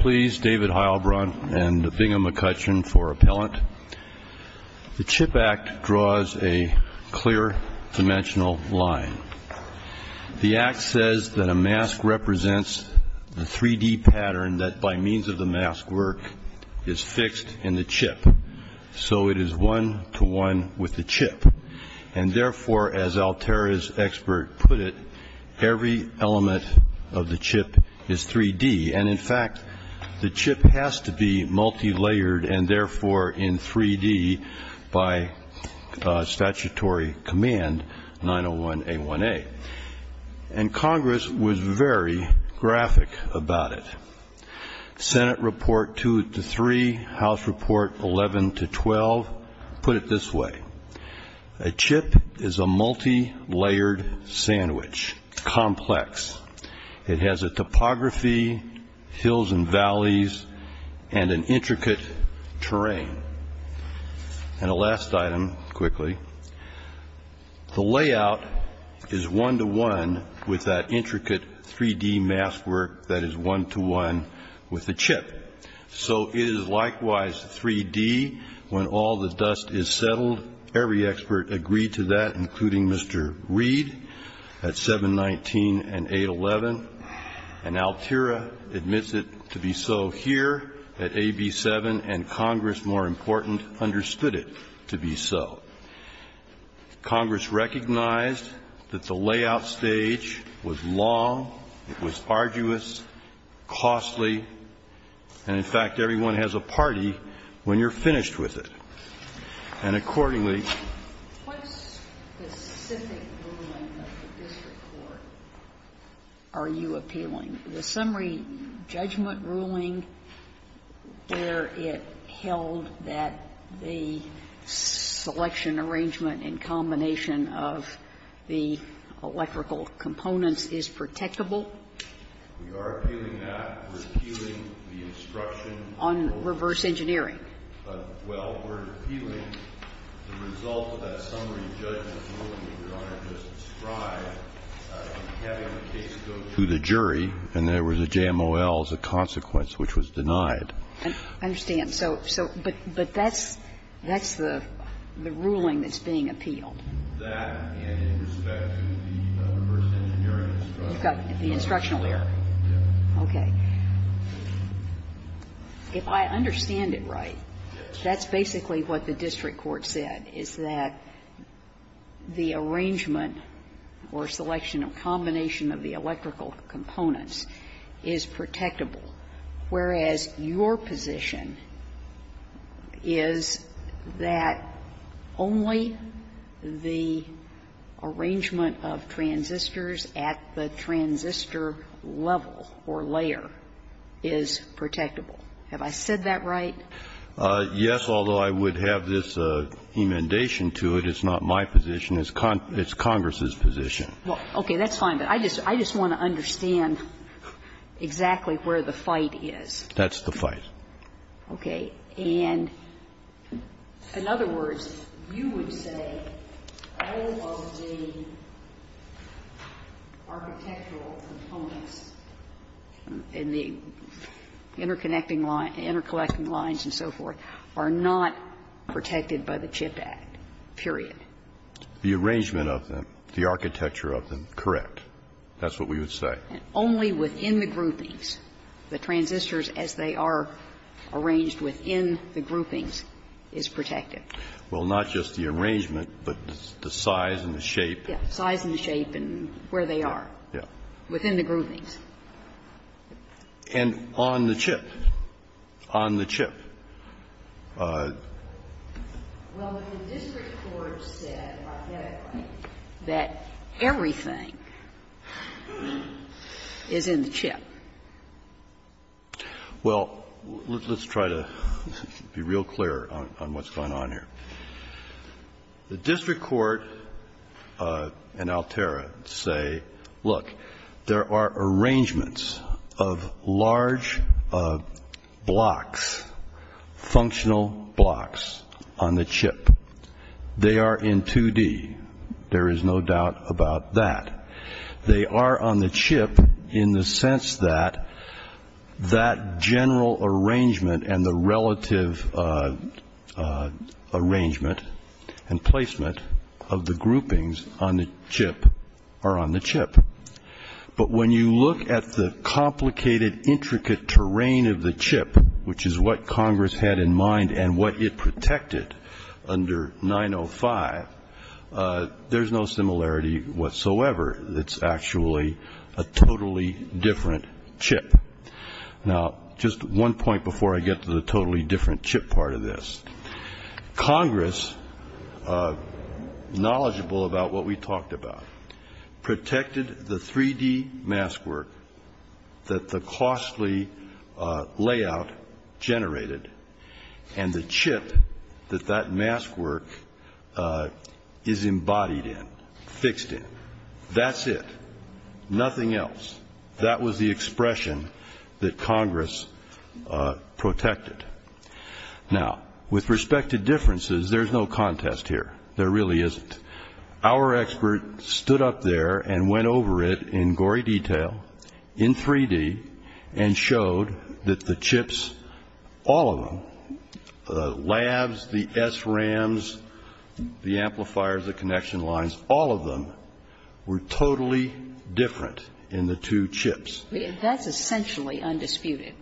Please David Heilbron and Bingham McCutcheon for appellant. The CHIP Act draws a clear dimensional line. The Act says that a mask represents the 3D pattern that by means of the mask work is fixed in the chip. So it is one-to-one with the chip and therefore as Altera's expert put it, every element of the chip is 3D and in the chip has to be multi-layered and therefore in 3D by statutory command 901 A1A. And Congress was very graphic about it. Senate Report 2 to 3, House Report 11 to 12 put it this way, a chip is a multi-layered sandwich, complex. It has a intricate terrain. And a last item quickly, the layout is one-to-one with that intricate 3D mask work that is one-to-one with the chip. So it is likewise 3D when all the dust is settled. Every expert agreed to that including Mr. Reed at 719 and 811 and Altera admits it to be so here at AB 7 and Congress more important understood it to be so. Congress recognized that the layout stage was long, it was arduous, costly, and in fact everyone has a party when you're finished with it. And accordingly Sotomayor, what specific ruling of the district court are you appealing, the summary judgment ruling where it held that the selection arrangement in combination of the electrical components is protectable? We are appealing that. We're appealing the instruction on reverse engineering. Well, we're appealing the result of that summary judgment ruling that Your Honor just described, having the case go to the jury and there was a JMOL as a consequence which was denied. I understand. So, so, but, but that's, that's the, the ruling that's being appealed. That and in respect to the reverse engineering instruction. You've got the instructional error. Yes. Okay. If I understand it right, that's basically what the district court said, is that the arrangement or selection of combination of the electrical components is protectable, whereas your position is that only the arrangement of transistors at the transistor level or layer is protectable. Have I said that right? Yes, although I would have this inundation to it. It's not my position. It's Congress's position. Well, okay, that's fine. But I just, I just want to understand exactly where the fight is. That's the fight. Okay. And in other words, you would say all of the architectural components in the interconnecting lines, interconnecting lines and so forth are not protected by the CHIP Act, period. The arrangement of them, the architecture of them, correct. That's what we would say. And only within the groupings, the transistors as they are arranged within the groupings is protected. Well, not just the arrangement, but the size and the shape. Yes. Size and shape and where they are. Yes. Within the groupings. And on the chip, on the chip. Well, the district court said, authentically, that everything is in the chip. Well, let's try to be real clear on what's going on here. The district court and Altera say, look, there are arrangements of large blocks functional blocks on the chip. They are in 2D. There is no doubt about that. They are on the chip in the sense that that general arrangement and the relative arrangement and placement of the groupings on the chip are on the chip. But when you look at the complicated, intricate terrain of the chip, which is what Congress had in mind and what it protected under 905, there's no similarity whatsoever. It's actually a totally different chip. Now, just one point before I get to the totally different chip part of this. Congress, knowledgeable about what we talked about, protected the 3D maskwork that the costly layout generated and the chip that that maskwork is embodied in, fixed in. That's it. Nothing else. That was the expression that Congress protected. Now, with respect to differences, there's no contest here. There really isn't. Our expert stood up there and went over it in gory detail in 3D and showed that the chips, all of them, the labs, the SRAMs, the amplifiers, the connection lines, all of them were totally different in the two chips. That's essentially undisputed,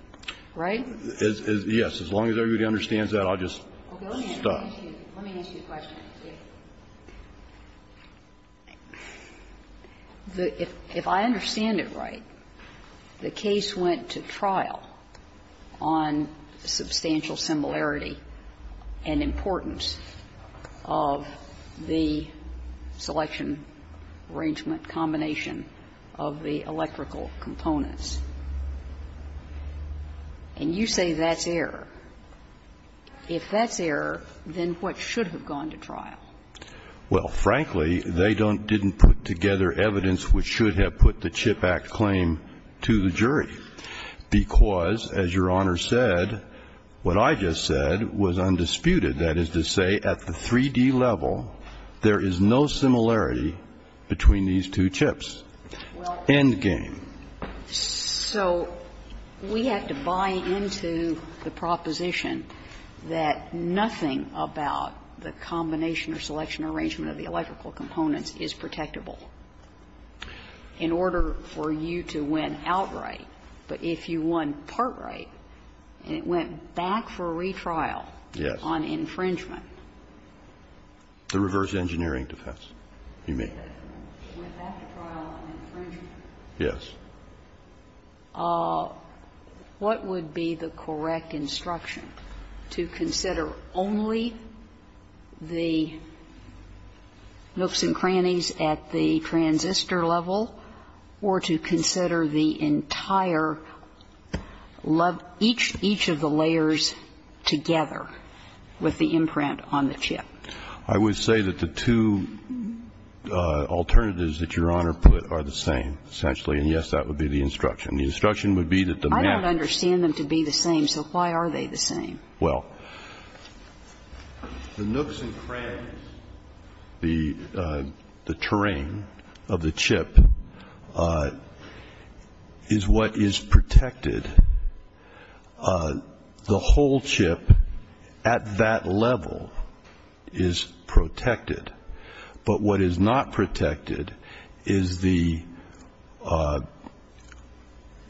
right? Yes. As long as everybody understands that, I'll just stop. Let me ask you a question. If I understand it right, the case went to trial on substantial similarity and importance of the selection, arrangement, combination of the electrical components. And you say that's error. If that's error, then what should have gone to trial? Well, frankly, they didn't put together evidence which should have put the CHIP Act claim to the jury, because, as Your Honor said, what I just said was undisputed. That is to say, at the 3D level, there is no similarity between these two chips. End game. So we have to buy into the proposition that nothing about the combination or selection or arrangement of the electrical components is protectable. In order for you to win outright, but if you won part right, and it went back for retrial on infringement. The reverse engineering defense, you mean. It went back to trial on infringement. Yes. What would be the correct instruction, to consider only the nooks and crannies at the transistor level or to consider the entire, each of the layers together with the imprint on the chip? I would say that the two alternatives that Your Honor put are the same. Essentially, and yes, that would be the instruction. The instruction would be that the map. I don't understand them to be the same, so why are they the same? Well, the nooks and crannies, the terrain of the chip is what is protected. The whole chip at that level is protected. But what is not protected is the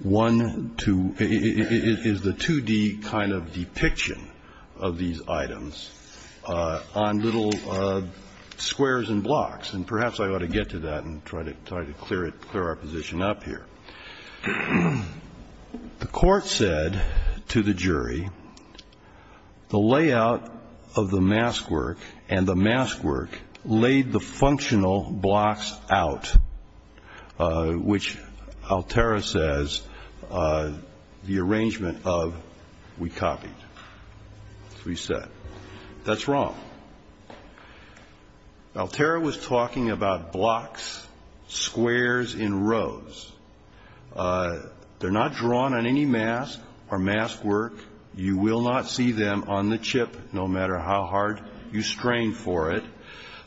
one, two, is the 2D kind of depiction of these items on little squares and blocks. And perhaps I ought to get to that and try to clear our position up here. The court said to the jury, the layout of the mask work and the mask work laid the functional blocks out, which Altera says, the arrangement of, we copied, we set. That's wrong. Altera was talking about blocks, squares in rows. They're not drawn on any mask or mask work. You will not see them on the chip, no matter how hard you strain for it,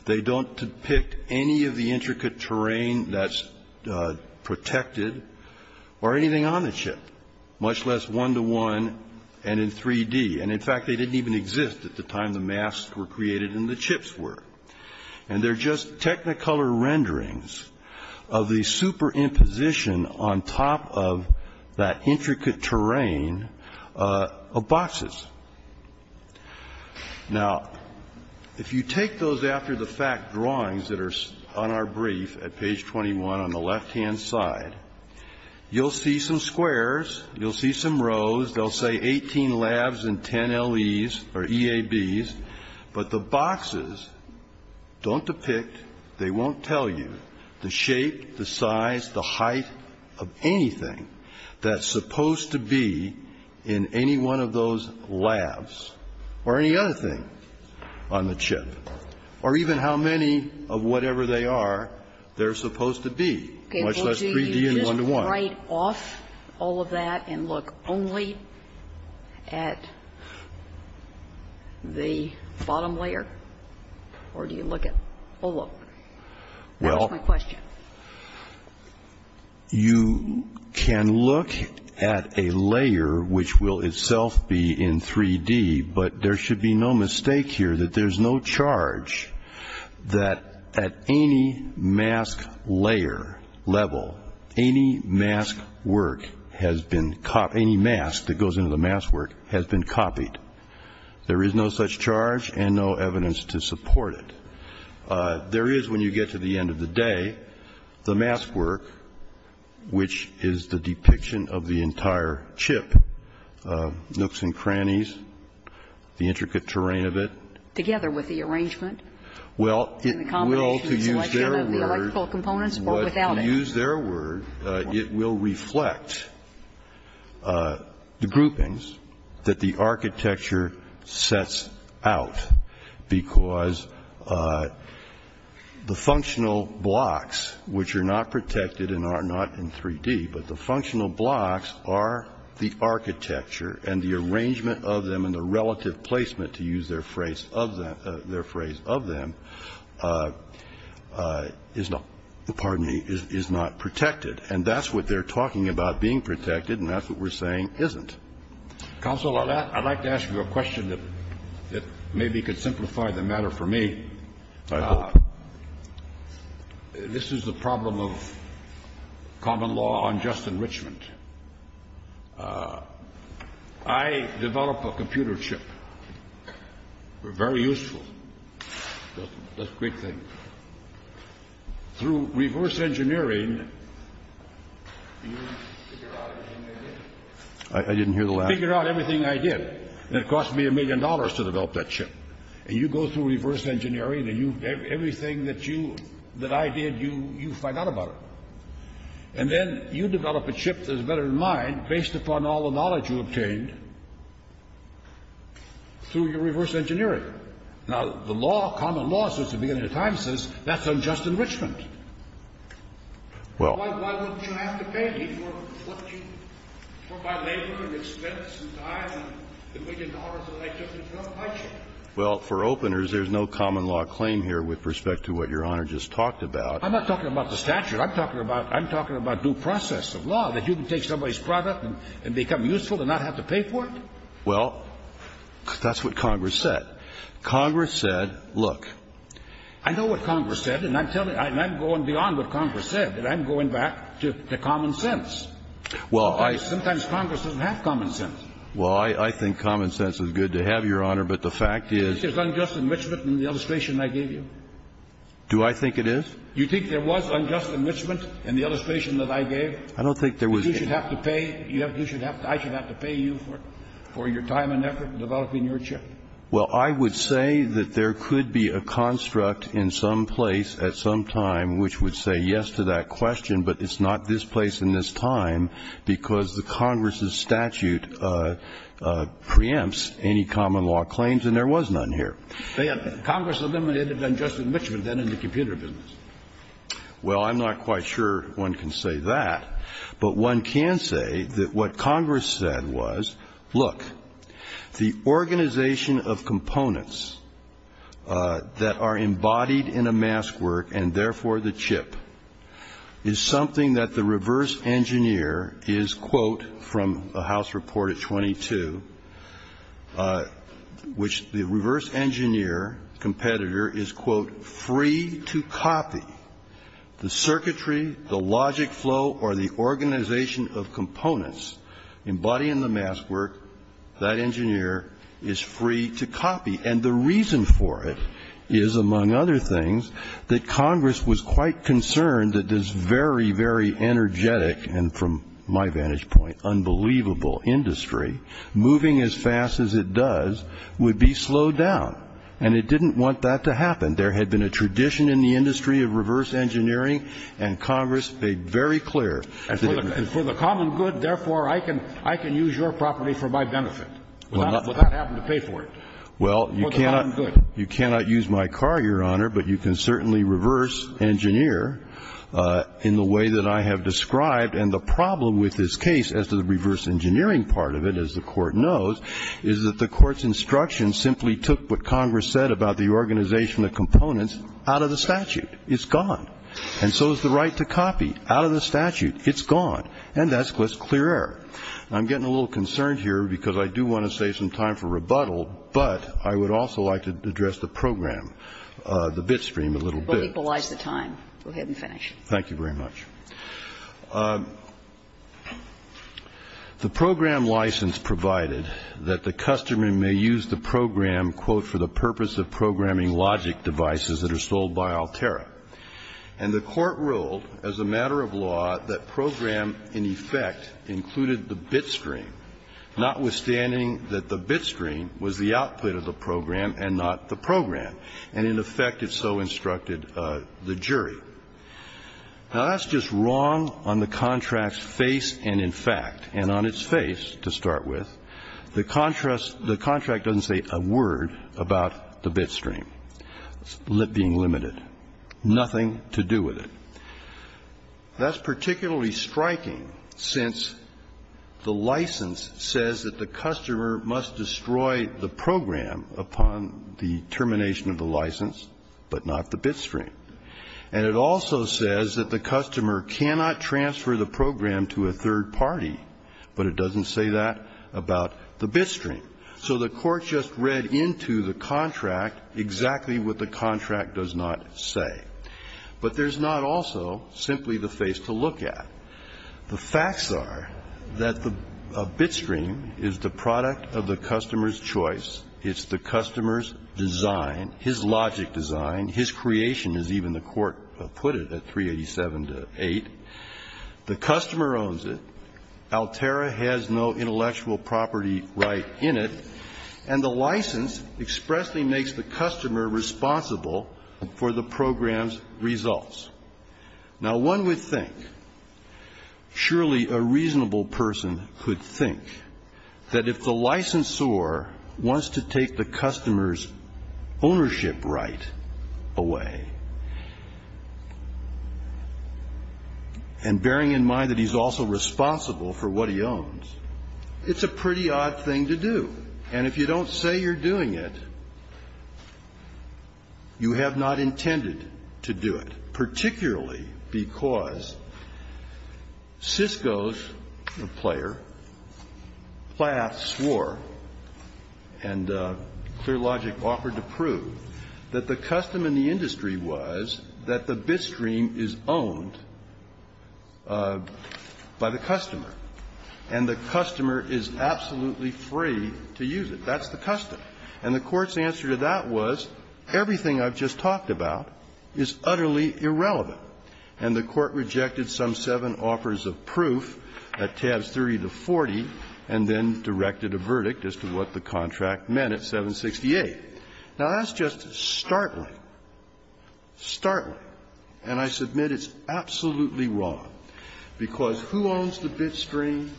they don't depict any of the intricate terrain that's protected or anything on the chip, much less one to one and in 3D. And in fact, they didn't even exist at the time the masks were created and the chips were. And they're just technicolor renderings of the superimposition on top of that intricate terrain of boxes. Now, if you take those after the fact drawings that are on our brief at page 21 on the left hand side, you'll see some squares, you'll see some rows. They'll say 18 labs and 10 LEs or EABs. But the boxes don't depict, they won't tell you the shape, the size, the height of anything that's supposed to be in any one of those labs or any other thing on the chip. Or even how many of whatever they are, they're supposed to be. Much less 3D and one to one. Okay, well, do you just write off all of that and look only at the bottom layer or do you look at the whole look? That's my question. You can look at a layer which will itself be in 3D, but there should be no mistake here that there's no charge that at any mask layer level, any mask work has been copied. Any mask that goes into the mask work has been copied. There is no such charge and no evidence to support it. There is, when you get to the end of the day, the mask work, which is the depiction of the entire chip, nooks and crannies. The intricate terrain of it. Together with the arrangement. Well, it will, to use their word, but to use their word, it will reflect the groupings that the architecture sets out. Because the functional blocks, which are not protected and are not in 3D, but the functional blocks are the architecture and the arrangement of them and the relative placement, to use their phrase of them, is not, pardon me, is not protected. And that's what they're talking about being protected and that's what we're saying isn't. Counselor, I'd like to ask you a question that maybe could simplify the matter for me. This is the problem of common law on just enrichment. I develop a computer chip. We're very useful. That's a great thing. Through reverse engineering. I didn't hear the last. Figure out everything I did. And it cost me a million dollars to develop that chip. And you go through reverse engineering and everything that I did, you find out about it. And then you develop a chip that's better than mine, based upon all the knowledge you obtained through your reverse engineering. Now, the law, common law, since the beginning of time says, that's unjust enrichment. Well, why wouldn't you have to pay me for what you, for my labor and expense and time and the million dollars that I took to develop my chip? Well, for openers, there's no common law claim here with respect to what Your Honor just talked about. I'm not talking about the statute. I'm talking about due process of law, that you can take somebody's product and become useful and not have to pay for it? Well, that's what Congress said. Congress said, look. I know what Congress said, and I'm going beyond what Congress said. And I'm going back to common sense. Well, I- Sometimes Congress doesn't have common sense. Well, I think common sense is good to have, Your Honor, but the fact is- Do you think there's unjust enrichment in the illustration I gave you? Do I think it is? You think there was unjust enrichment in the illustration that I gave? I don't think there was- That you should have to pay, I should have to pay you for your time and effort in developing your chip? Well, I would say that there could be a construct in some place at some time which would say yes to that question, but it's not this place in this time because the Congress' statute preempts any common law claims, and there was none here. They had Congress eliminated unjust enrichment, then, in the computer business. Well, I'm not quite sure one can say that. But one can say that what Congress said was, look, the organization of components that are embodied in a mask work, and therefore the chip, is something that the reverse engineer is, quote, from a House report at 22, which the reverse engineer competitor is, quote, free to copy. The circuitry, the logic flow, or the organization of components embodying the mask work, that engineer is free to copy. And the reason for it is, among other things, that Congress was quite concerned that this very, very energetic, and from my vantage point, unbelievable industry, moving as fast as it does, would be slowed down. And it didn't want that to happen. There had been a tradition in the industry of reverse engineering, and Congress made very clear- And for the common good, therefore, I can use your property for my benefit. Would that happen to pay for it? Well, you cannot use my car, Your Honor, but you can certainly reverse engineer in the way that I have described. And the problem with this case, as to the reverse engineering part of it, as the court knows, is that the court's instruction simply took what Congress said about the organization of components out of the statute. It's gone. And so is the right to copy, out of the statute. It's gone. And that's clear error. I'm getting a little concerned here, because I do want to save some time for that, but I would also like to address the program, the bit stream a little bit. We'll equalize the time. Go ahead and finish. Thank you very much. The program license provided that the customer may use the program, quote, for the purpose of programming logic devices that are sold by Altera. And the court ruled, as a matter of law, that program, in effect, included the bit stream, was the output of the program and not the program. And in effect, it so instructed the jury. Now, that's just wrong on the contract's face and in fact. And on its face, to start with, the contract doesn't say a word about the bit stream being limited, nothing to do with it. That's particularly striking, since the license says that the customer must destroy the program upon the termination of the license, but not the bit stream. And it also says that the customer cannot transfer the program to a third party, but it doesn't say that about the bit stream. So the court just read into the contract exactly what the contract does not say. But there's not also simply the face to look at. The facts are that the bit stream is the product of the customer's choice. It's the customer's design, his logic design, his creation as even the court put it at 387 to 8. The customer owns it. Altera has no intellectual property right in it. And the license expressly makes the customer responsible for the program's results. Now, one would think, surely a reasonable person could think that if the licensor wants to take the customer's ownership right away, and bearing in mind that he's also responsible for what he owns, it's a pretty odd thing to do. And if you don't say you're doing it, you have not intended to do it, particularly because Cisco's player, Plath swore and Clear Logic offered to prove that the custom in the industry was that the bit stream is owned by the customer. And the customer is absolutely free to use it. That's the custom. And the court's answer to that was, everything I've just talked about is utterly irrelevant. And the court rejected some seven offers of proof at tabs 30 to 40 and then directed a verdict as to what the contract meant at 768. Now, that's just startling, startling. And I submit it's absolutely wrong, because who owns the bit stream,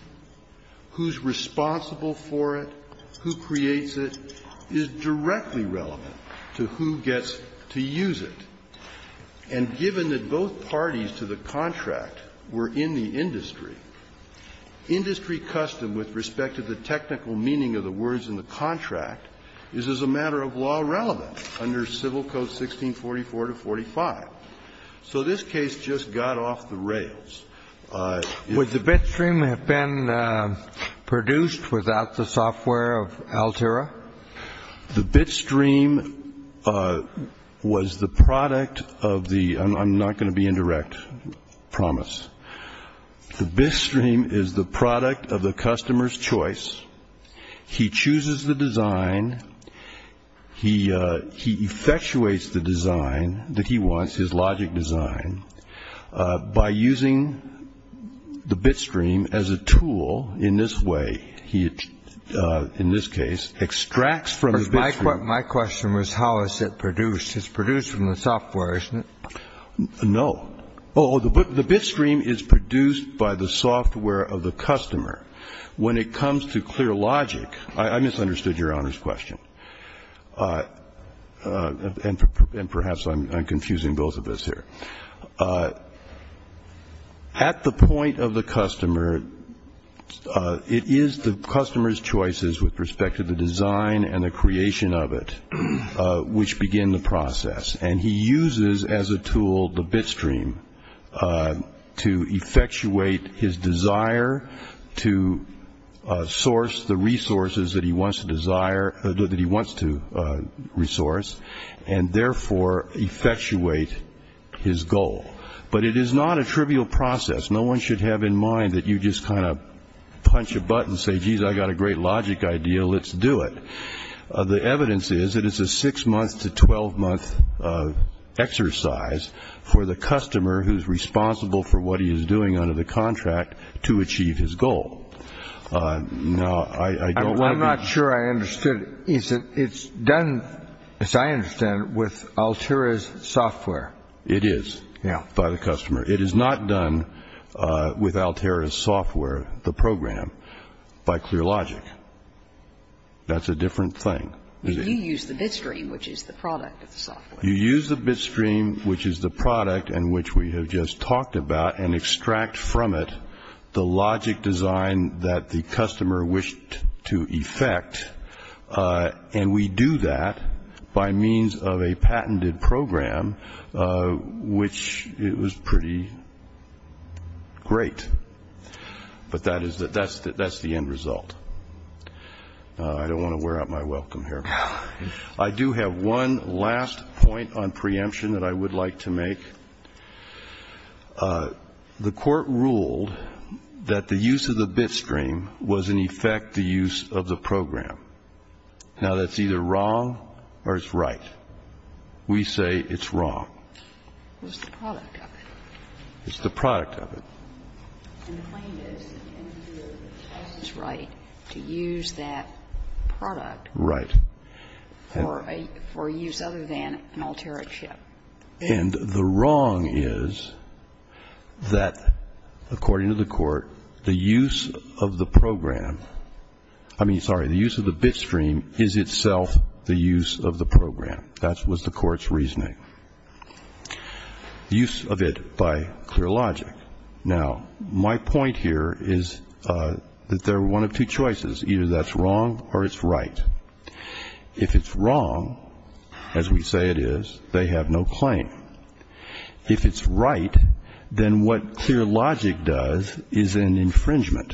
who's responsible for it, who creates it, is directly relevant to who gets to use it. And given that both parties to the contract were in the industry, industry custom with respect to the technical meaning of the words in the contract is as a matter of law relevant under Civil Code 1644 to 45. Kennedy. Would the bit stream have been produced without the software of Altera? The bit stream was the product of the I'm not going to be indirect promise. The bit stream is the product of the customer's choice. He chooses the design. He he effectuates the design that he wants his logic design by using the bit stream as a tool in this way. He in this case extracts from his my question was how is it produced? It's produced from the software, isn't it? No, the bit stream is produced by the software of the customer when it comes to clear logic, I misunderstood Your Honor's question. And perhaps I'm confusing both of us here. At the point of the customer, it is the customer's choices with respect to the design and the creation of it which begin the process. And he uses as a tool the bit stream to effectuate his desire to source the resources that he wants to desire, that he wants to resource. And therefore effectuate his goal. But it is not a trivial process. No one should have in mind that you just kind of punch a button and say, geez, I got a great logic idea. Let's do it. The evidence is that it's a six month to 12 month exercise for the customer who's responsible for what he is doing under the contract to achieve his goal. No, I don't want to be. I'm not sure I understood it. It's done, as I understand it, with Altera's software. It is by the customer. It is not done with Altera's software, the program, by clear logic. That's a different thing. You use the bit stream, which is the product of the software. You use the bit stream, which is the product and which we have just talked about, and extract from it the logic design that the customer wished to effect. And we do that by means of a patented program, which it was pretty great. But that's the end result. I don't want to wear out my welcome here. I do have one last point on preemption that I would like to make. The Court ruled that the use of the bit stream was in effect the use of the program. Now, that's either wrong or it's right. We say it's wrong. It's the product of it. And the claim is that the end user has the right to use that product for a use other than an Altera chip. And the wrong is that, according to the Court, the use of the program, I mean, sorry, the use of the bit stream is itself the use of the program. That was the Court's reasoning. Use of it by clear logic. Now, my point here is that there are one of two choices. Either that's wrong or it's right. If it's wrong, as we say it is, they have no claim. If it's right, then what clear logic does is an infringement.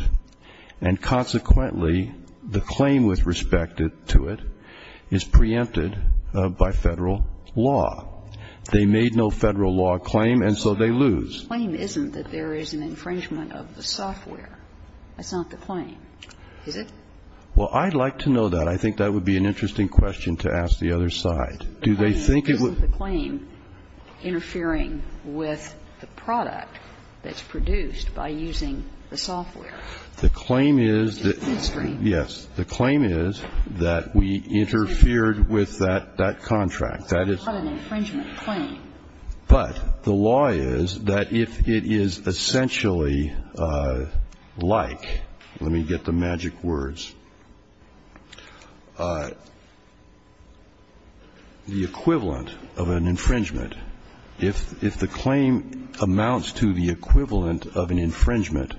And consequently, the claim with respect to it is preempted by Federal law. They made no Federal law claim, and so they lose. The claim isn't that there is an infringement of the software. That's not the claim, is it? Well, I'd like to know that. I think that would be an interesting question to ask the other side. Do they think it would? Isn't the claim interfering with the product that's produced by using the software? The claim is that. Yes. The claim is that we interfered with that contract. That is not an infringement claim. But the law is that if it is essentially like, let me get the magic words. The equivalent of an infringement, if the claim amounts to the equivalent of an infringement,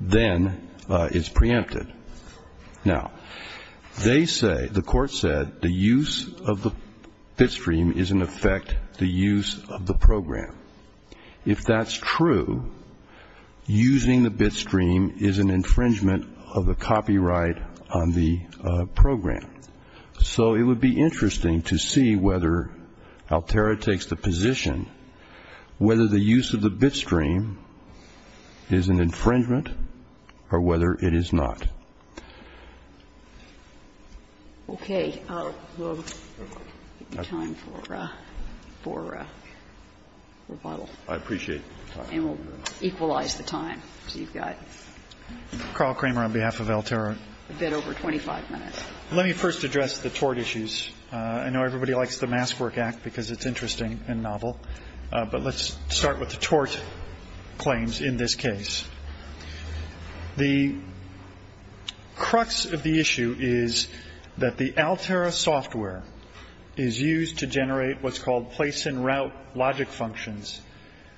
then it's preempted. Now, they say, the court said, the use of the bitstream is in effect the use of the program. If that's true, using the bitstream is an infringement of the copyright on the program. So it would be interesting to see whether Altera takes the position, whether the use of the bitstream is an infringement or whether it is not. Okay. I'll give you time for rebuttal. I appreciate your time. And we'll equalize the time. So you've got a bit over 25 minutes. Let me first address the tort issues. I know everybody likes the Maskwork Act because it's interesting and novel. But let's start with the tort claims in this case. The crux of the issue is that the Altera software is used to generate what's called place and route logic functions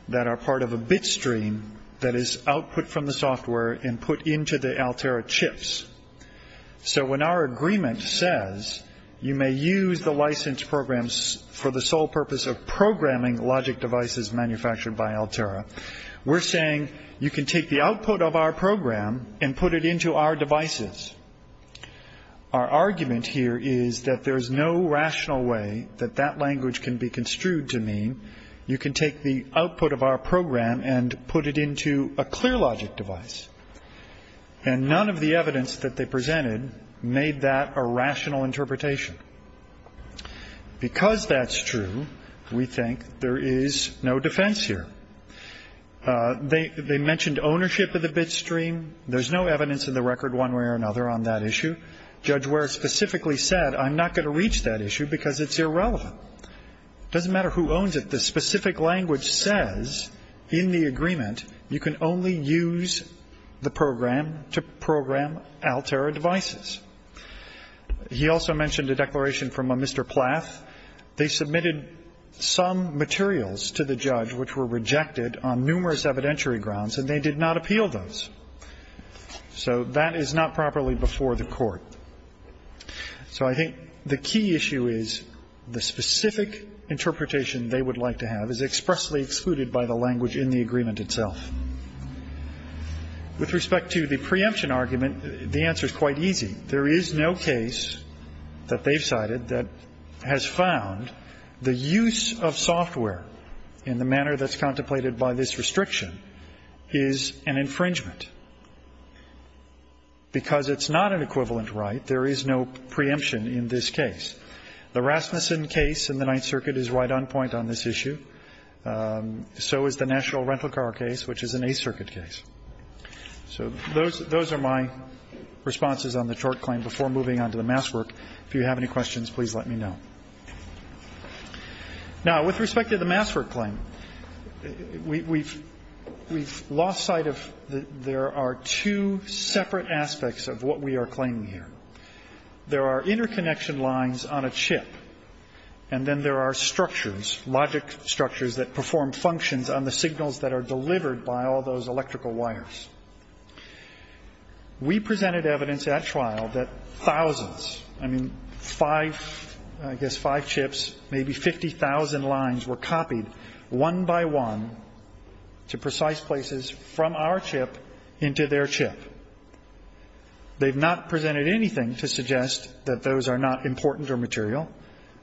that are part of a bitstream that is output from the software and put into the Altera chips. So when our agreement says you may use the license programs for the sole purpose of programming logic devices manufactured by Altera, we're saying you can take the output of our program and put it into our devices. Our argument here is that there is no rational way that that language can be construed to mean you can take the output of our program and put it into a clear logic device. And none of the evidence that they presented made that a rational interpretation. Because that's true, we think there is no defense here. They mentioned ownership of the bitstream. There's no evidence in the record one way or another on that issue. Judge Ware specifically said, I'm not going to reach that issue because it's irrelevant. It doesn't matter who owns it. The specific language says in the agreement you can only use the program to program Altera devices. He also mentioned a declaration from a Mr. Plath. They submitted some materials to the judge which were rejected on numerous evidentiary grounds, and they did not appeal those. So that is not properly before the court. So I think the key issue is the specific interpretation they would like to have is expressly excluded by the language in the agreement itself. With respect to the preemption argument, the answer is quite easy. There is no case that they've cited that has found the use of software in the manner that's contemplated by this restriction is an infringement. Because it's not an equivalent right, there is no preemption in this case. The Rasmussen case in the Ninth Circuit is right on point on this issue. So is the National Rental Car case, which is an Eighth Circuit case. So those are my responses on the tort claim before moving on to the mass work. If you have any questions, please let me know. Now, with respect to the mass work claim, we've lost sight of there are two separate aspects of what we are claiming here. There are interconnection lines on a chip, and then there are structures, logic structures, that perform functions on the signals that are delivered by all those electrical wires. We presented evidence at trial that thousands, I mean, five, I guess five chips, maybe 50,000 lines were copied one by one to precise places from our chip into their chip. They've not presented anything to suggest that those are not important or material.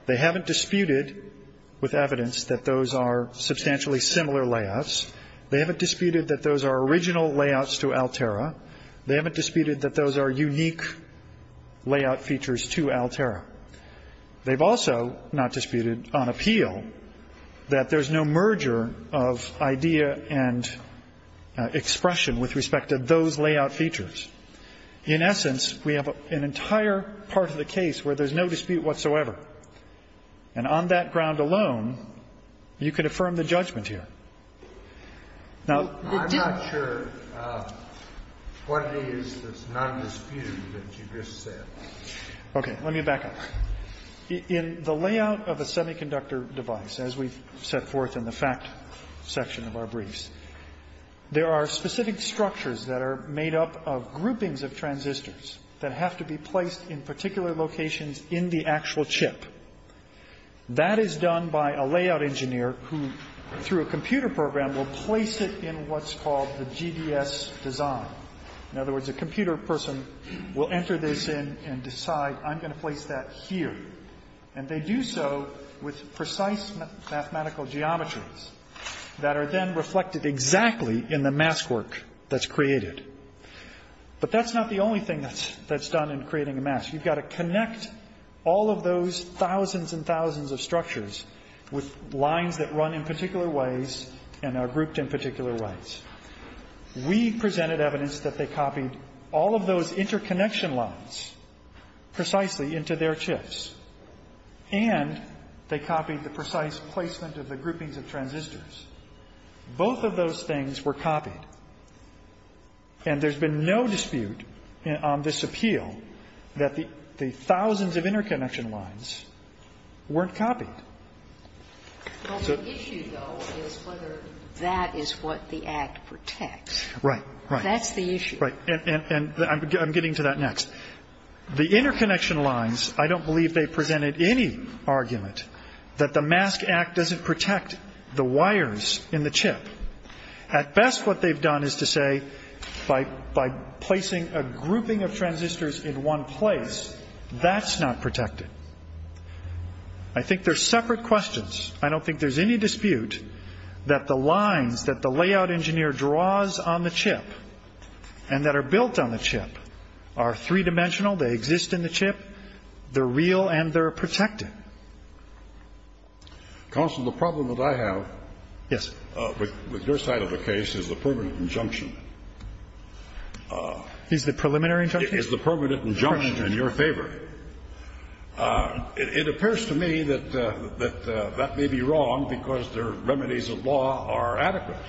They haven't disputed with evidence that those are substantially similar layouts. They haven't disputed that those are original layouts to Altera. They haven't disputed that those are unique layout features to Altera. They've also not disputed on appeal that there's no merger of idea and expression with respect to those layout features. In essence, we have an entire part of the case where there's no dispute whatsoever. And on that ground alone, you can affirm the judgment here. Now, the difference --- I'm not sure what it is that's not disputed that you just said. Okay, let me back up. In the layout of a semiconductor device, as we've set forth in the fact section of our briefs, there are specific structures that are made up of groupings of transistors that have to be placed in particular locations in the actual chip. That is done by a layout engineer who, through a computer program, will place it in what's called the GDS design. In other words, a computer person will enter this in and decide, I'm going to place that here. And they do so with precise mathematical geometries that are then reflected exactly in the mask work that's created. But that's not the only thing that's done in creating a mask. You've got to connect all of those thousands and thousands of structures with lines that run in particular ways and are grouped in particular ways. We presented evidence that they copied all of those interconnection lines precisely into their chips, and they copied the precise placement of the groupings of transistors. Both of those things were copied. And there's been no dispute on this appeal that the thousands of interconnection lines weren't copied. So the issue, though, is whether that is what the Act protects. Right. That's the issue. Right. And I'm getting to that next. The interconnection lines, I don't believe they've presented any argument that the Mask Act doesn't protect the wires in the chip. At best, what they've done is to say by placing a grouping of transistors in one place, that's not protected. I think they're separate questions. I don't think there's any dispute that the lines that the layout engineer draws on the chip and that are built on the chip are three-dimensional, they exist in the chip, they're real, and they're protected. Counsel, the problem that I have with your side of the case is the permanent injunction. Is the preliminary injunction? Is the permanent injunction in your favor? It appears to me that that may be wrong because the remedies of law are adequate.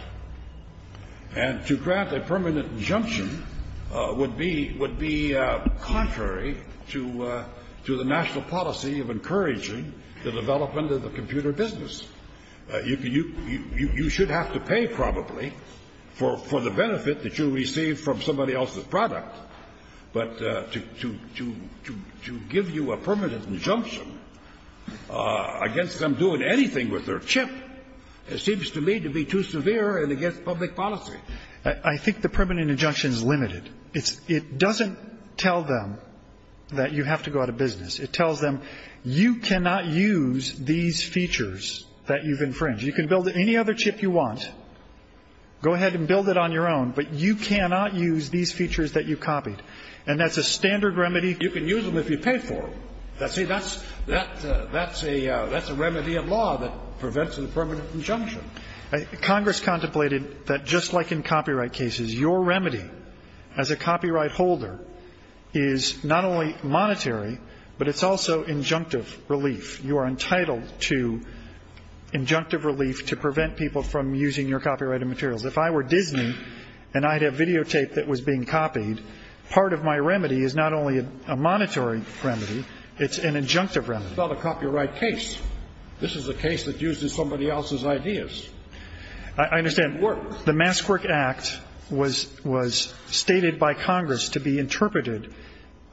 And to grant a permanent injunction would be contrary to the national policy of encouraging the development of the computer business. You should have to pay, probably, for the benefit that you receive from somebody else's product. But to give you a permanent injunction against them doing anything with their chip seems to me to be too severe and against public policy. I think the permanent injunction is limited. It doesn't tell them that you have to go out of business. It tells them you cannot use these features that you've infringed. You can build any other chip you want, go ahead and build it on your own, but you cannot use these features that you copied. And that's a standard remedy. You can use them if you pay for them. See, that's a remedy of law that prevents a permanent injunction. Congress contemplated that just like in copyright cases, your remedy as a copyright holder is not only monetary, but it's also injunctive relief. You are entitled to injunctive relief to prevent people from using your copyrighted materials. If I were Disney and I had a videotape that was being copied, part of my remedy is not only a monetary remedy, it's an injunctive remedy. It's not a copyright case. This is a case that uses somebody else's ideas. I understand. The Maskwork Act was stated by Congress to be interpreted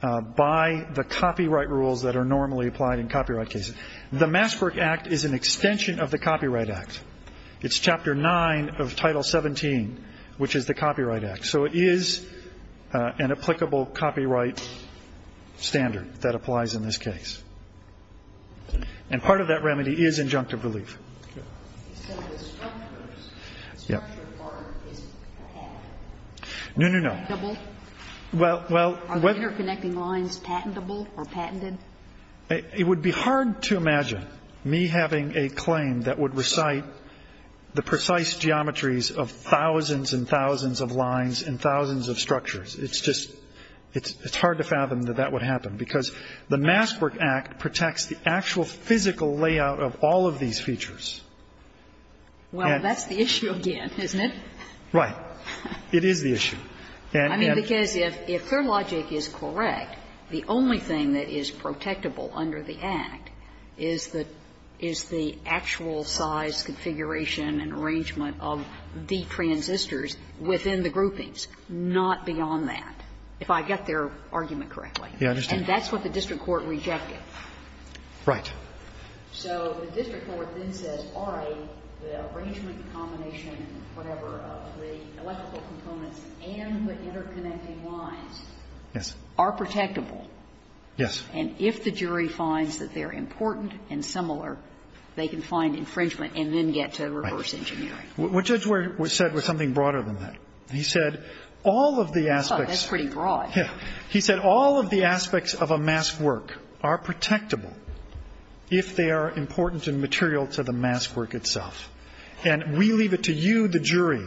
by the copyright rules that are normally applied in copyright cases. The Maskwork Act is an extension of the Copyright Act. It's Chapter 9 of Title 17, which is the Copyright Act. So it is an applicable copyright standard that applies in this case. And part of that remedy is injunctive relief. Yes. No, no, no. Well, well. Are the interconnecting lines patentable or patented? It would be hard to imagine me having a claim that would recite the precise geometries of thousands and thousands of lines and thousands of structures. It's just, it's hard to fathom that that would happen, because the Maskwork Act protects the actual physical layout of all of these features. Well, that's the issue again, isn't it? Right. It is the issue. I mean, because if their logic is correct, the only thing that is protectable under the Act is the actual size configuration and arrangement of the transistors within the groupings, not beyond that, if I get their argument correctly. Yeah, I understand. And that's what the district court rejected. Right. So the district court then says, all right, the arrangement, the combination, whatever, of the electrical components and the interconnecting lines are protectable. Yes. And if the jury finds that they're important and similar, they can find infringement and then get to reverse engineering. Right. What Judge Ware said was something broader than that. He said all of the aspects. That's pretty broad. Yeah. He said all of the aspects of a maskwork are protectable if they are important and material to the maskwork itself. And we leave it to you, the jury,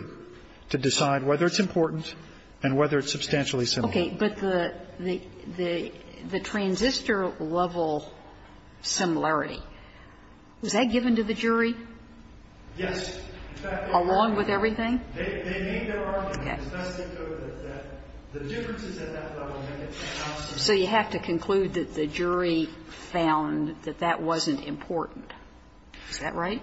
to decide whether it's important and whether it's substantially similar. Okay. But the transistor-level similarity, was that given to the jury? Yes. Along with everything? Okay. So you have to conclude that the jury found that that wasn't important. Is that right?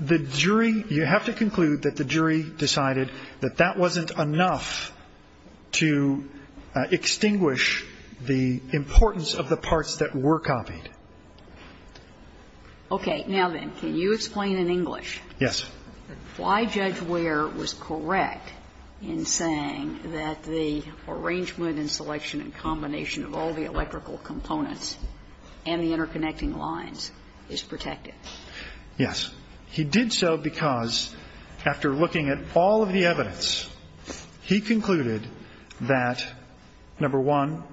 The jury, you have to conclude that the jury decided that that wasn't enough to extinguish the importance of the parts that were copied. Okay. Now then, can you explain in English? Yes. Why Judge Ware was correct in saying that the arrangement and selection and combination of all the electrical components and the interconnecting lines is protective? Yes. He did so because after looking at all of the evidence, he concluded that, number one,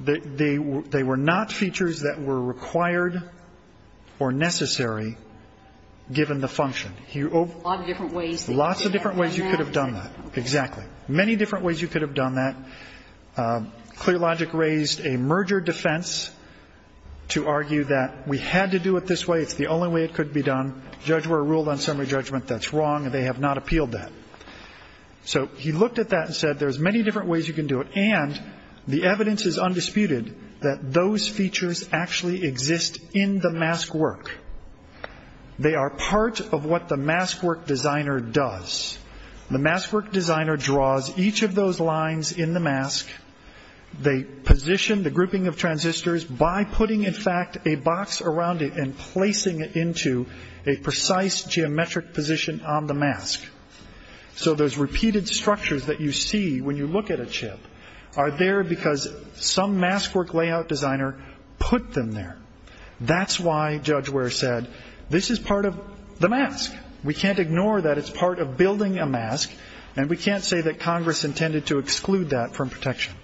they were not features that were required or necessary given the function. Lots of different ways you could have done that. Exactly. Many different ways you could have done that. ClearLogic raised a merger defense to argue that we had to do it this way. It's the only way it could be done. Judge Ware ruled on summary judgment that's wrong. They have not appealed that. So he looked at that and said there's many different ways you can do it. And the evidence is undisputed that those features actually exist in the mask work. They are part of what the mask work designer does. The mask work designer draws each of those lines in the mask. They position the grouping of transistors by putting, in fact, a box around it and placing it into a precise geometric position on the mask. So those repeated structures that you see when you look at a chip are there because some mask work layout designer put them there. That's why Judge Ware said this is part of the mask. We can't ignore that it's part of building a mask, and we can't say that Congress intended to exclude that from protection.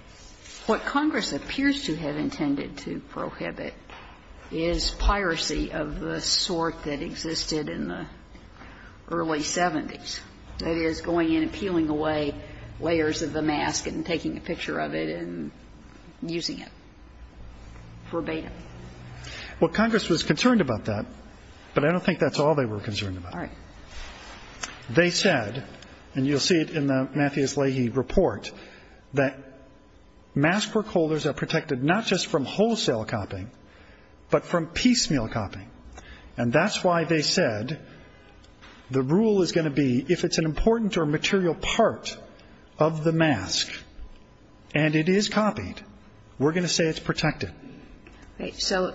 What Congress appears to have intended to prohibit is piracy of the sort that existed in the early 70s, that is, going in and peeling away layers of the mask and taking a picture of it and using it verbatim. Well, Congress was concerned about that, but I don't think that's all they were concerned All right. They said, and you'll see it in the Mathias Leahy report, that mask work holders are protected not just from wholesale copying, but from piecemeal copying. And that's why they said the rule is going to be if it's an important or material part of the mask and it is copied, we're going to say it's protected. Okay. So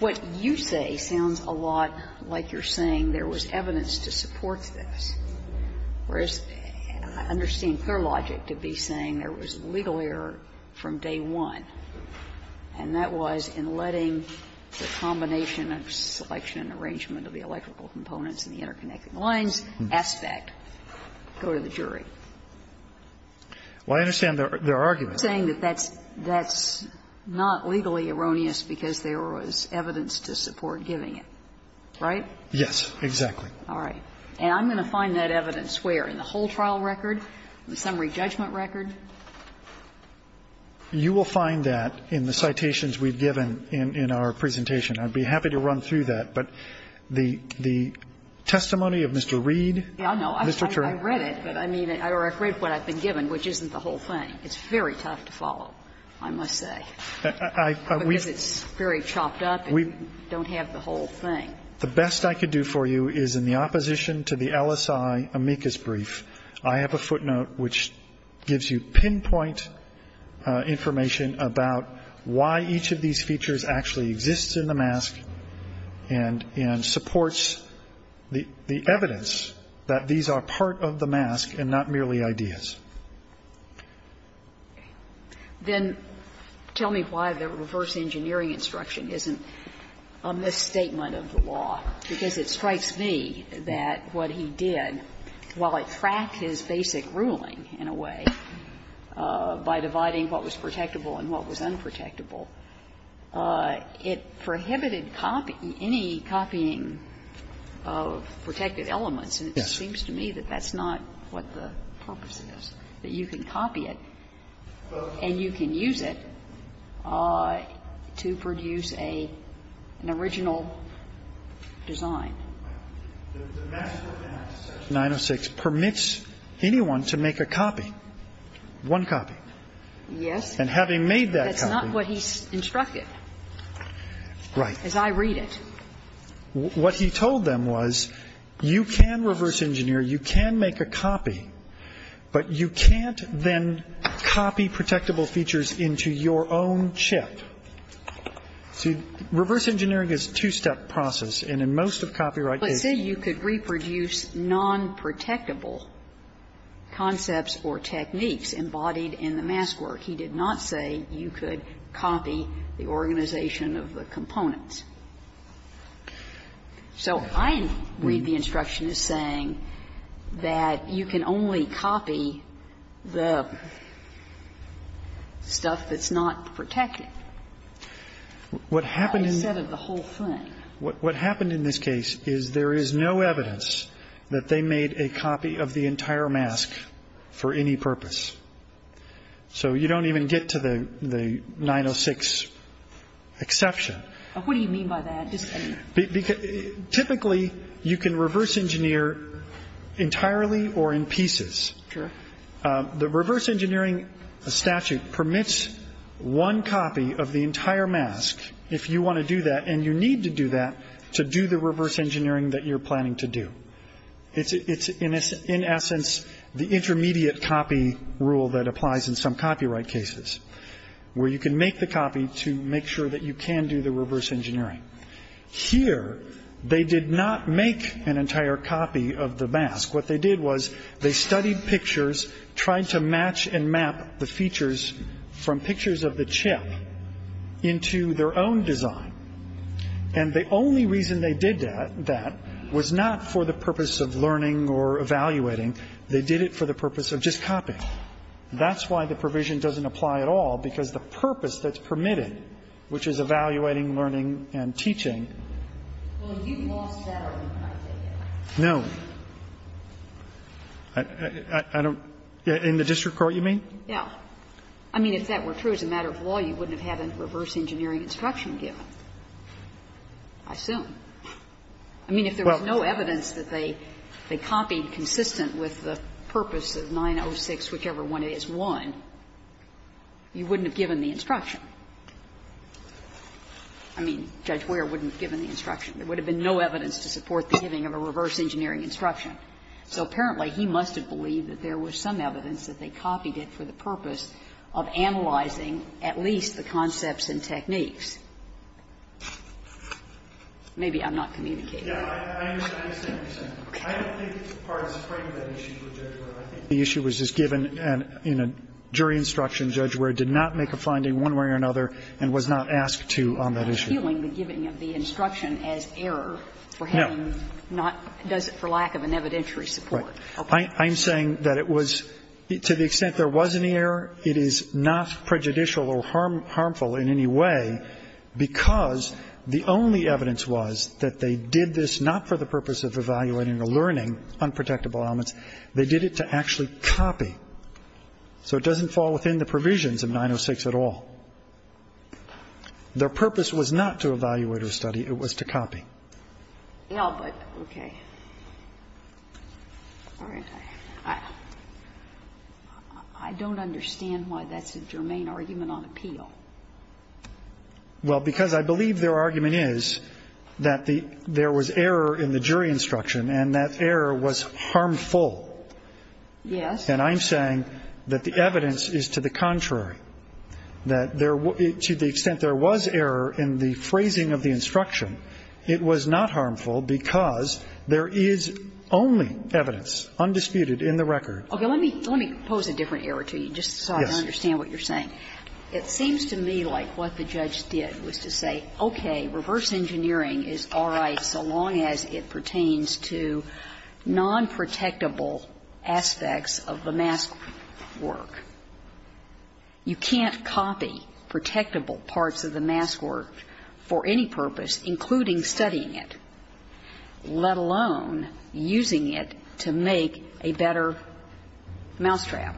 what you say sounds a lot like you're saying there was evidence to support this, whereas I understand clear logic to be saying there was legal error from day one, and that was in letting the combination of selection and arrangement of the electrical components and the interconnected lines aspect go to the jury. Well, I understand their argument. But you're saying that that's not legally erroneous because there was evidence to support giving it, right? Yes, exactly. All right. And I'm going to find that evidence where? In the whole trial record? In the summary judgment record? You will find that in the citations we've given in our presentation. I'd be happy to run through that, but the testimony of Mr. Reed, Mr. Turner. I know. I read it, but I mean, or I've read what I've been given, which isn't the whole thing. It's very tough to follow, I must say, because it's very chopped up and you don't have the whole thing. The best I could do for you is in the opposition to the LSI amicus brief, I have a footnote which gives you pinpoint information about why each of these features actually exists in the mask and supports the evidence that these are part of the mask and not merely ideas. Then tell me why the reverse engineering instruction isn't a misstatement of the law, because it strikes me that what he did, while it cracked his basic ruling in a way by dividing what was protectable and what was unprotectable, it prohibited any copying of protected elements. And it seems to me that that's not what the purpose is, that you can copy it and you can use it to produce an original design. The mask of 906 permits anyone to make a copy, one copy. Yes. And having made that copy. That's not what he instructed. Right. As I read it. What he told them was you can reverse engineer, you can make a copy, but you can't then copy protectable features into your own chip. See, reverse engineering is a two-step process, and in most of copyright cases. He said you could reproduce nonprotectable concepts or techniques embodied in the mask work. He did not say you could copy the organization of the components. So I read the instruction as saying that you can only copy the stuff that's not protected, instead of the whole thing. What happened in this case is there is no evidence that they made a copy of the entire mask for any purpose. So you don't even get to the 906 exception. What do you mean by that? Typically, you can reverse engineer entirely or in pieces. Sure. The reverse engineering statute permits one copy of the entire mask if you want to do that, and you need to do that to do the reverse engineering that you're planning to do. It's, in essence, the intermediate copy rule that applies in some copyright cases, where you can make the copy to make sure that you can do the reverse engineering. Here, they did not make an entire copy of the mask. What they did was they studied pictures, tried to match and map the features from pictures of the chip into their own design, and the only reason they did that was not for the purpose of learning or evaluating. They did it for the purpose of just copying. That's why the provision doesn't apply at all, because the purpose that's permitted, which is evaluating, learning and teaching. No. I don't. In the district court, you mean? Yeah. I mean, if that were true as a matter of law, you wouldn't have had a reverse engineering instruction given. I assume. I mean, if there was no evidence that they copied consistent with the purpose of 906, whichever one it is, 1, you wouldn't have given the instruction. I mean, Judge Ware wouldn't have given the instruction. There would have been no evidence to support the giving of a reverse engineering instruction. So apparently, he must have believed that there was some evidence that they copied it for the purpose of analyzing at least the concepts and techniques. Maybe I'm not communicating. Yeah. I understand. I understand. I don't think it's part of the frame of that issue for Judge Ware. I think the issue was just given in a jury instruction. Judge Ware did not make a finding one way or another and was not asked to on that issue. He's not appealing the giving of the instruction as error for having not does it for lack of an evidentiary support. Right. I'm saying that it was, to the extent there was any error, it is not prejudicial or harmful in any way because the only evidence was that they did this not for the purpose of evaluating or learning unprotectable elements. They did it to actually copy. So it doesn't fall within the provisions of 906 at all. Their purpose was not to evaluate or study. It was to copy. Yeah, but, okay. All right. I don't understand why that's a germane argument on appeal. Well, because I believe their argument is that there was error in the jury instruction and that error was harmful. Yes. And I'm saying that the evidence is to the contrary, that to the extent there was error in the phrasing of the instruction, it was not harmful because there is only evidence, undisputed in the record. Okay. Let me pose a different error to you just so I can understand what you're saying. It seems to me like what the judge did was to say, okay, reverse engineering is all right so long as it pertains to nonprotectable aspects of the mask work. You can't copy protectable parts of the mask work for any purpose, including studying it, let alone using it to make a better mousetrap.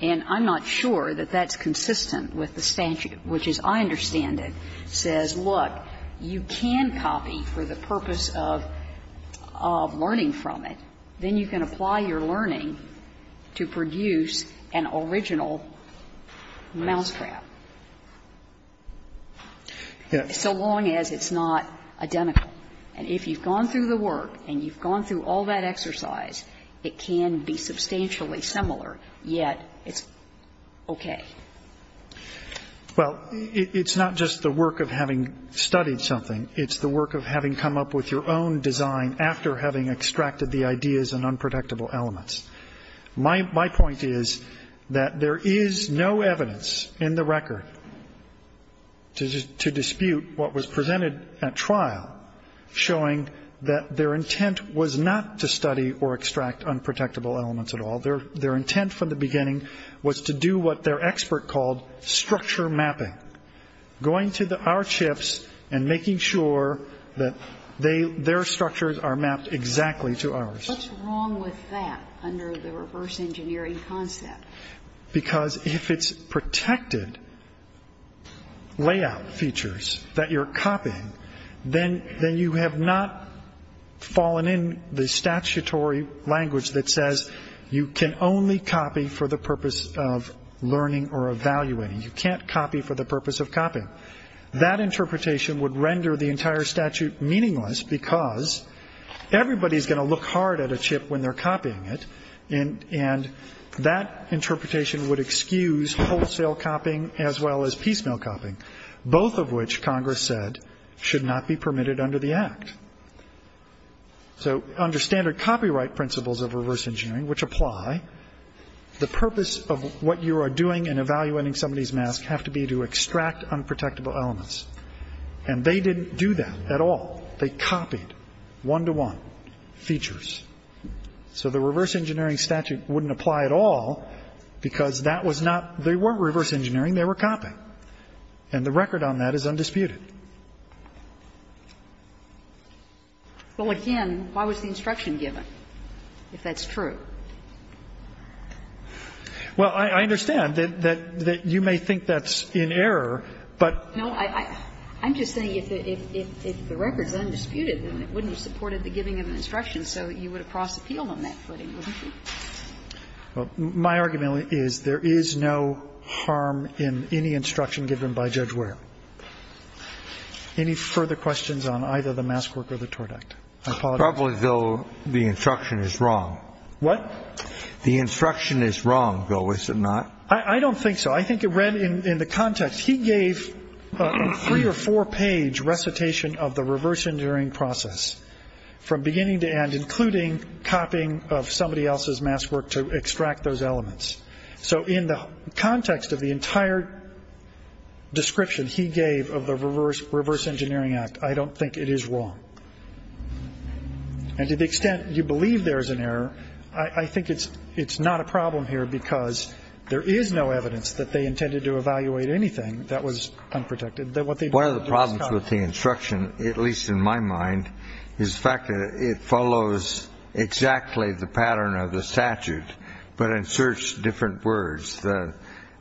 And I'm not sure that that's consistent with the statute, which, as I understand it, says, look, you can copy for the purpose of learning from it. Then you can apply your learning to produce an original mousetrap. Yes. So long as it's not identical. And if you've gone through the work and you've gone through all that exercise, it can be substantially similar, yet it's okay. Well, it's not just the work of having studied something. It's the work of having come up with your own design after having extracted the ideas and unprotectable elements. My point is that there is no evidence in the record to dispute what was presented at trial showing that their intent was not to study or extract unprotectable elements at all. Their intent from the beginning was to do what their expert called structure mapping, going to our chips and making sure that their structures are mapped exactly to ours. What's wrong with that under the reverse engineering concept? Because if it's protected layout features that you're copying, then you have not fallen in the statutory language that says you can only copy for the purpose of learning or evaluating. You can't copy for the purpose of copying. That interpretation would render the entire statute meaningless because everybody is going to look hard at a chip when they're copying it, and that interpretation would excuse wholesale copying as well as piecemeal copying, both of which, Congress said, should not be permitted under the Act. So under standard copyright principles of reverse engineering, which apply, the purpose of what you are doing in evaluating somebody's mask have to be to extract unprotectable elements, and they didn't do that at all. They copied one-to-one features. So the reverse engineering statute wouldn't apply at all because that was not the reverse engineering, they were copying. And the record on that is undisputed. Well, again, why was the instruction given, if that's true? Well, I understand that you may think that's in error, but no, I'm just saying if the record is undisputed, then it wouldn't have supported the giving of an instruction, so you would have prosse-appealed on that footing, wouldn't you? My argument is there is no harm in any instruction given by Judge Ware. Any further questions on either the mask work or the tort act? I apologize. Probably, though, the instruction is wrong. What? The instruction is wrong, though, is it not? I don't think so. Well, I think it read in the context, he gave a three- or four-page recitation of the reverse engineering process from beginning to end, including copying of somebody else's mask work to extract those elements. So in the context of the entire description he gave of the reverse engineering act, I don't think it is wrong. And to the extent you believe there is an error, I think it's not a problem here because there is no evidence that they intended to evaluate anything that was unprotected. One of the problems with the instruction, at least in my mind, is the fact that it follows exactly the pattern of the statute but inserts different words, the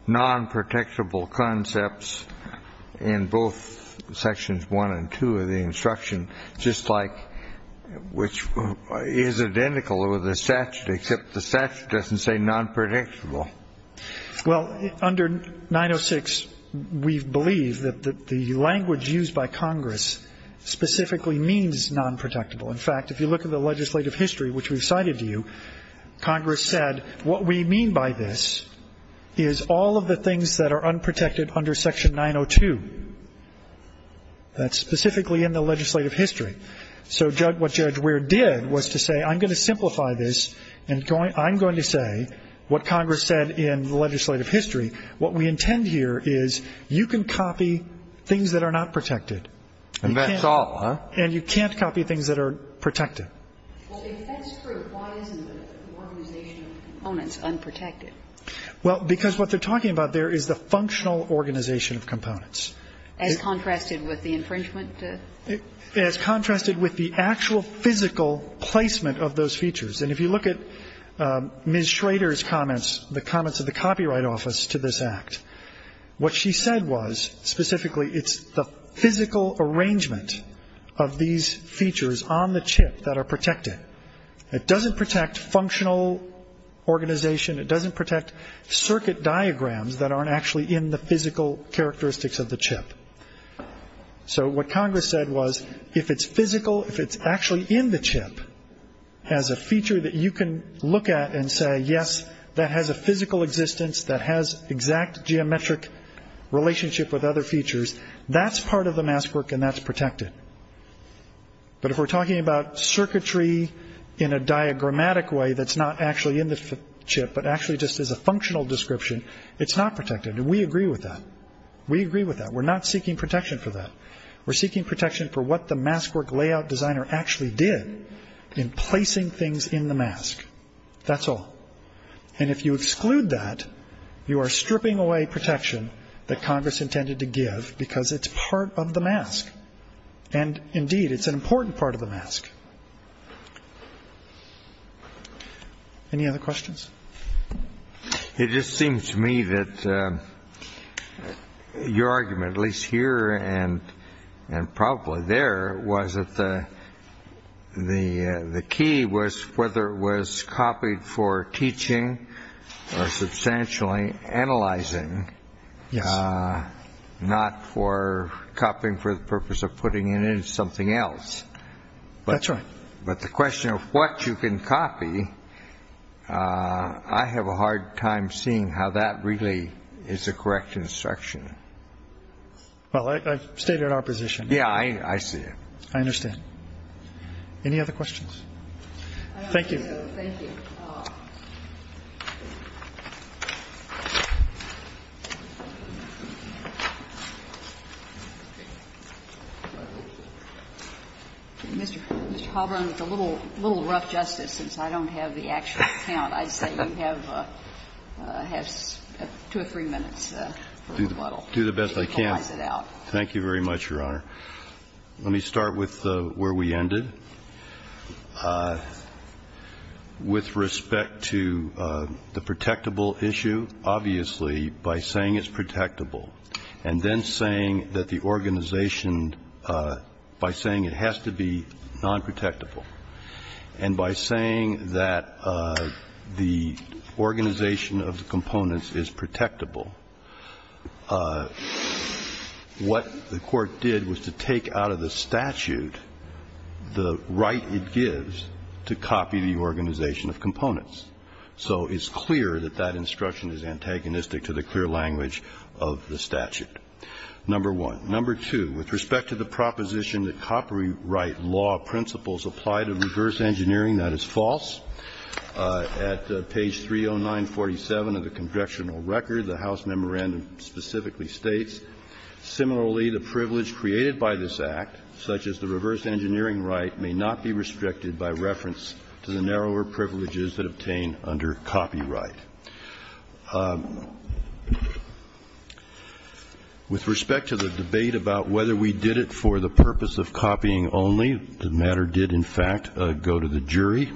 non-protectable concepts in both sections one and two of the instruction, which is identical with the statute except the statute doesn't say non-protectable. Well, under 906, we believe that the language used by Congress specifically means non-protectable. In fact, if you look at the legislative history, which we've cited to you, Congress said what we mean by this is all of the things that are unprotected under Section 902. That's specifically in the legislative history. So what Judge Weir did was to say I'm going to simplify this and I'm going to say what Congress said in the legislative history. What we intend here is you can copy things that are not protected. And that's all, huh? And you can't copy things that are protected. Well, if that's true, why isn't the organization of components unprotected? And if you look at Ms. Schrader's comments, the comments of the Copyright Office to this Act, what she said was specifically it's the physical arrangement of these features on the chip that are protected. It doesn't protect functional organization. It doesn't protect circuit diagrams that aren't actually in the physical characteristics of the chip. So what Congress said was if it's physical, if it's actually in the chip, has a feature that you can look at and say, yes, that has a physical existence, that has exact geometric relationship with other features, that's part of the mask work and that's protected. But if we're talking about circuitry in a diagrammatic way that's not actually in the chip but actually just is a functional description, it's not protected. And we agree with that. We agree with that. We're not seeking protection for that. We're seeking protection for what the mask work layout designer actually did in placing things in the mask. That's all. And if you exclude that, you are stripping away protection that Congress intended to give because it's part of the mask. And, indeed, it's an important part of the mask. Any other questions? It just seems to me that your argument, at least here and probably there, was that the key was whether it was copied for teaching or substantially analyzing, not for copying for the purpose of putting it in something else. That's right. But the question of what you can copy, I have a hard time seeing how that really is a correct instruction. Well, I've stayed in our position. Yeah, I see it. I understand. Any other questions? Thank you. Thank you. Mr. Halvern, it's a little rough, Justice, since I don't have the actual count. I'd say you have two or three minutes for rebuttal. Do the best I can. Equalize it out. Thank you very much, Your Honor. Let me start with where we ended. With respect to the protectable issue, obviously, by saying it's protectable and then saying that the organization, by saying it has to be nonprotectable and by saying that the organization of the components is protectable, what the Court did was to take out of the statute the right it gives to copy the organization of components. So it's clear that that instruction is antagonistic to the clear language of the statute. Number one. Number two, with respect to the proposition that copyright law principles apply to reverse engineering, that is false. At page 30947 of the Congressional Record, the House Memorandum specifically states, similarly, the privilege created by this Act, such as the reverse engineering right, may not be restricted by reference to the narrower privileges that obtain under copyright. With respect to the debate about whether we did it for the purpose of copying only, the matter did, in fact, go to the jury.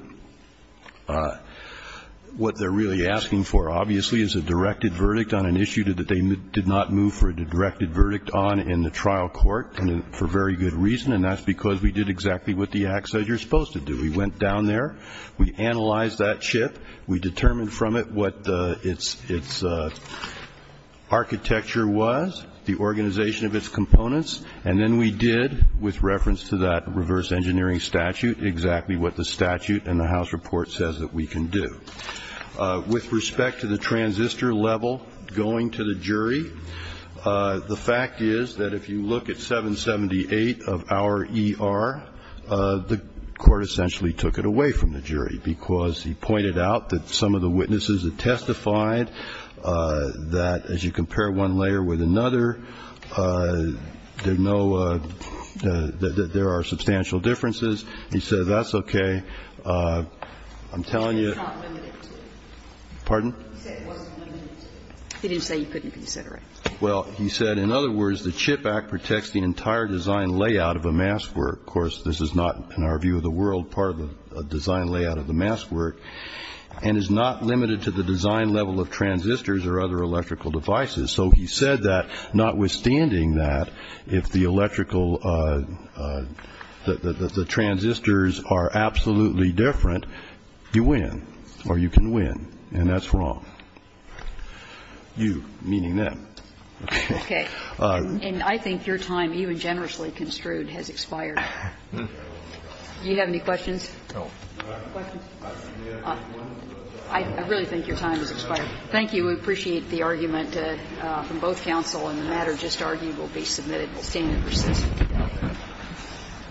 What they're really asking for, obviously, is a directed verdict on an issue that they did not move for a directed verdict on in the trial court for very good reason, and that's because we did exactly what the Act says you're supposed to do. We went down there. We analyzed that chip. We determined from it what its architecture was, the organization of its components, and then we did, with reference to that reverse engineering statute, exactly what the statute and the House report says that we can do. With respect to the transistor level going to the jury, the fact is that if you look at 778 of our ER, the court essentially took it away from the jury, because he pointed out that some of the witnesses that testified that, as you compare one layer with another, there are substantial differences. He said, that's okay. I'm telling you. Pardon? He didn't say you couldn't consider it. Well, he said, in other words, the CHIP Act protects the entire design layout of a mask where, of course, this is not, in our view of the world, part of the design layout of the mask work, and is not limited to the design level of transistors or other electrical devices. So he said that, notwithstanding that, if the electrical, the transistors are absolutely different, you win or you can win, and that's wrong. You, meaning them. Okay. And I think your time, even generously construed, has expired. Do you have any questions? No. Questions? I really think your time has expired. Thank you. We appreciate the argument from both counsel, and the matter just argued will be submitted. We'll stand and proceed. Thank you.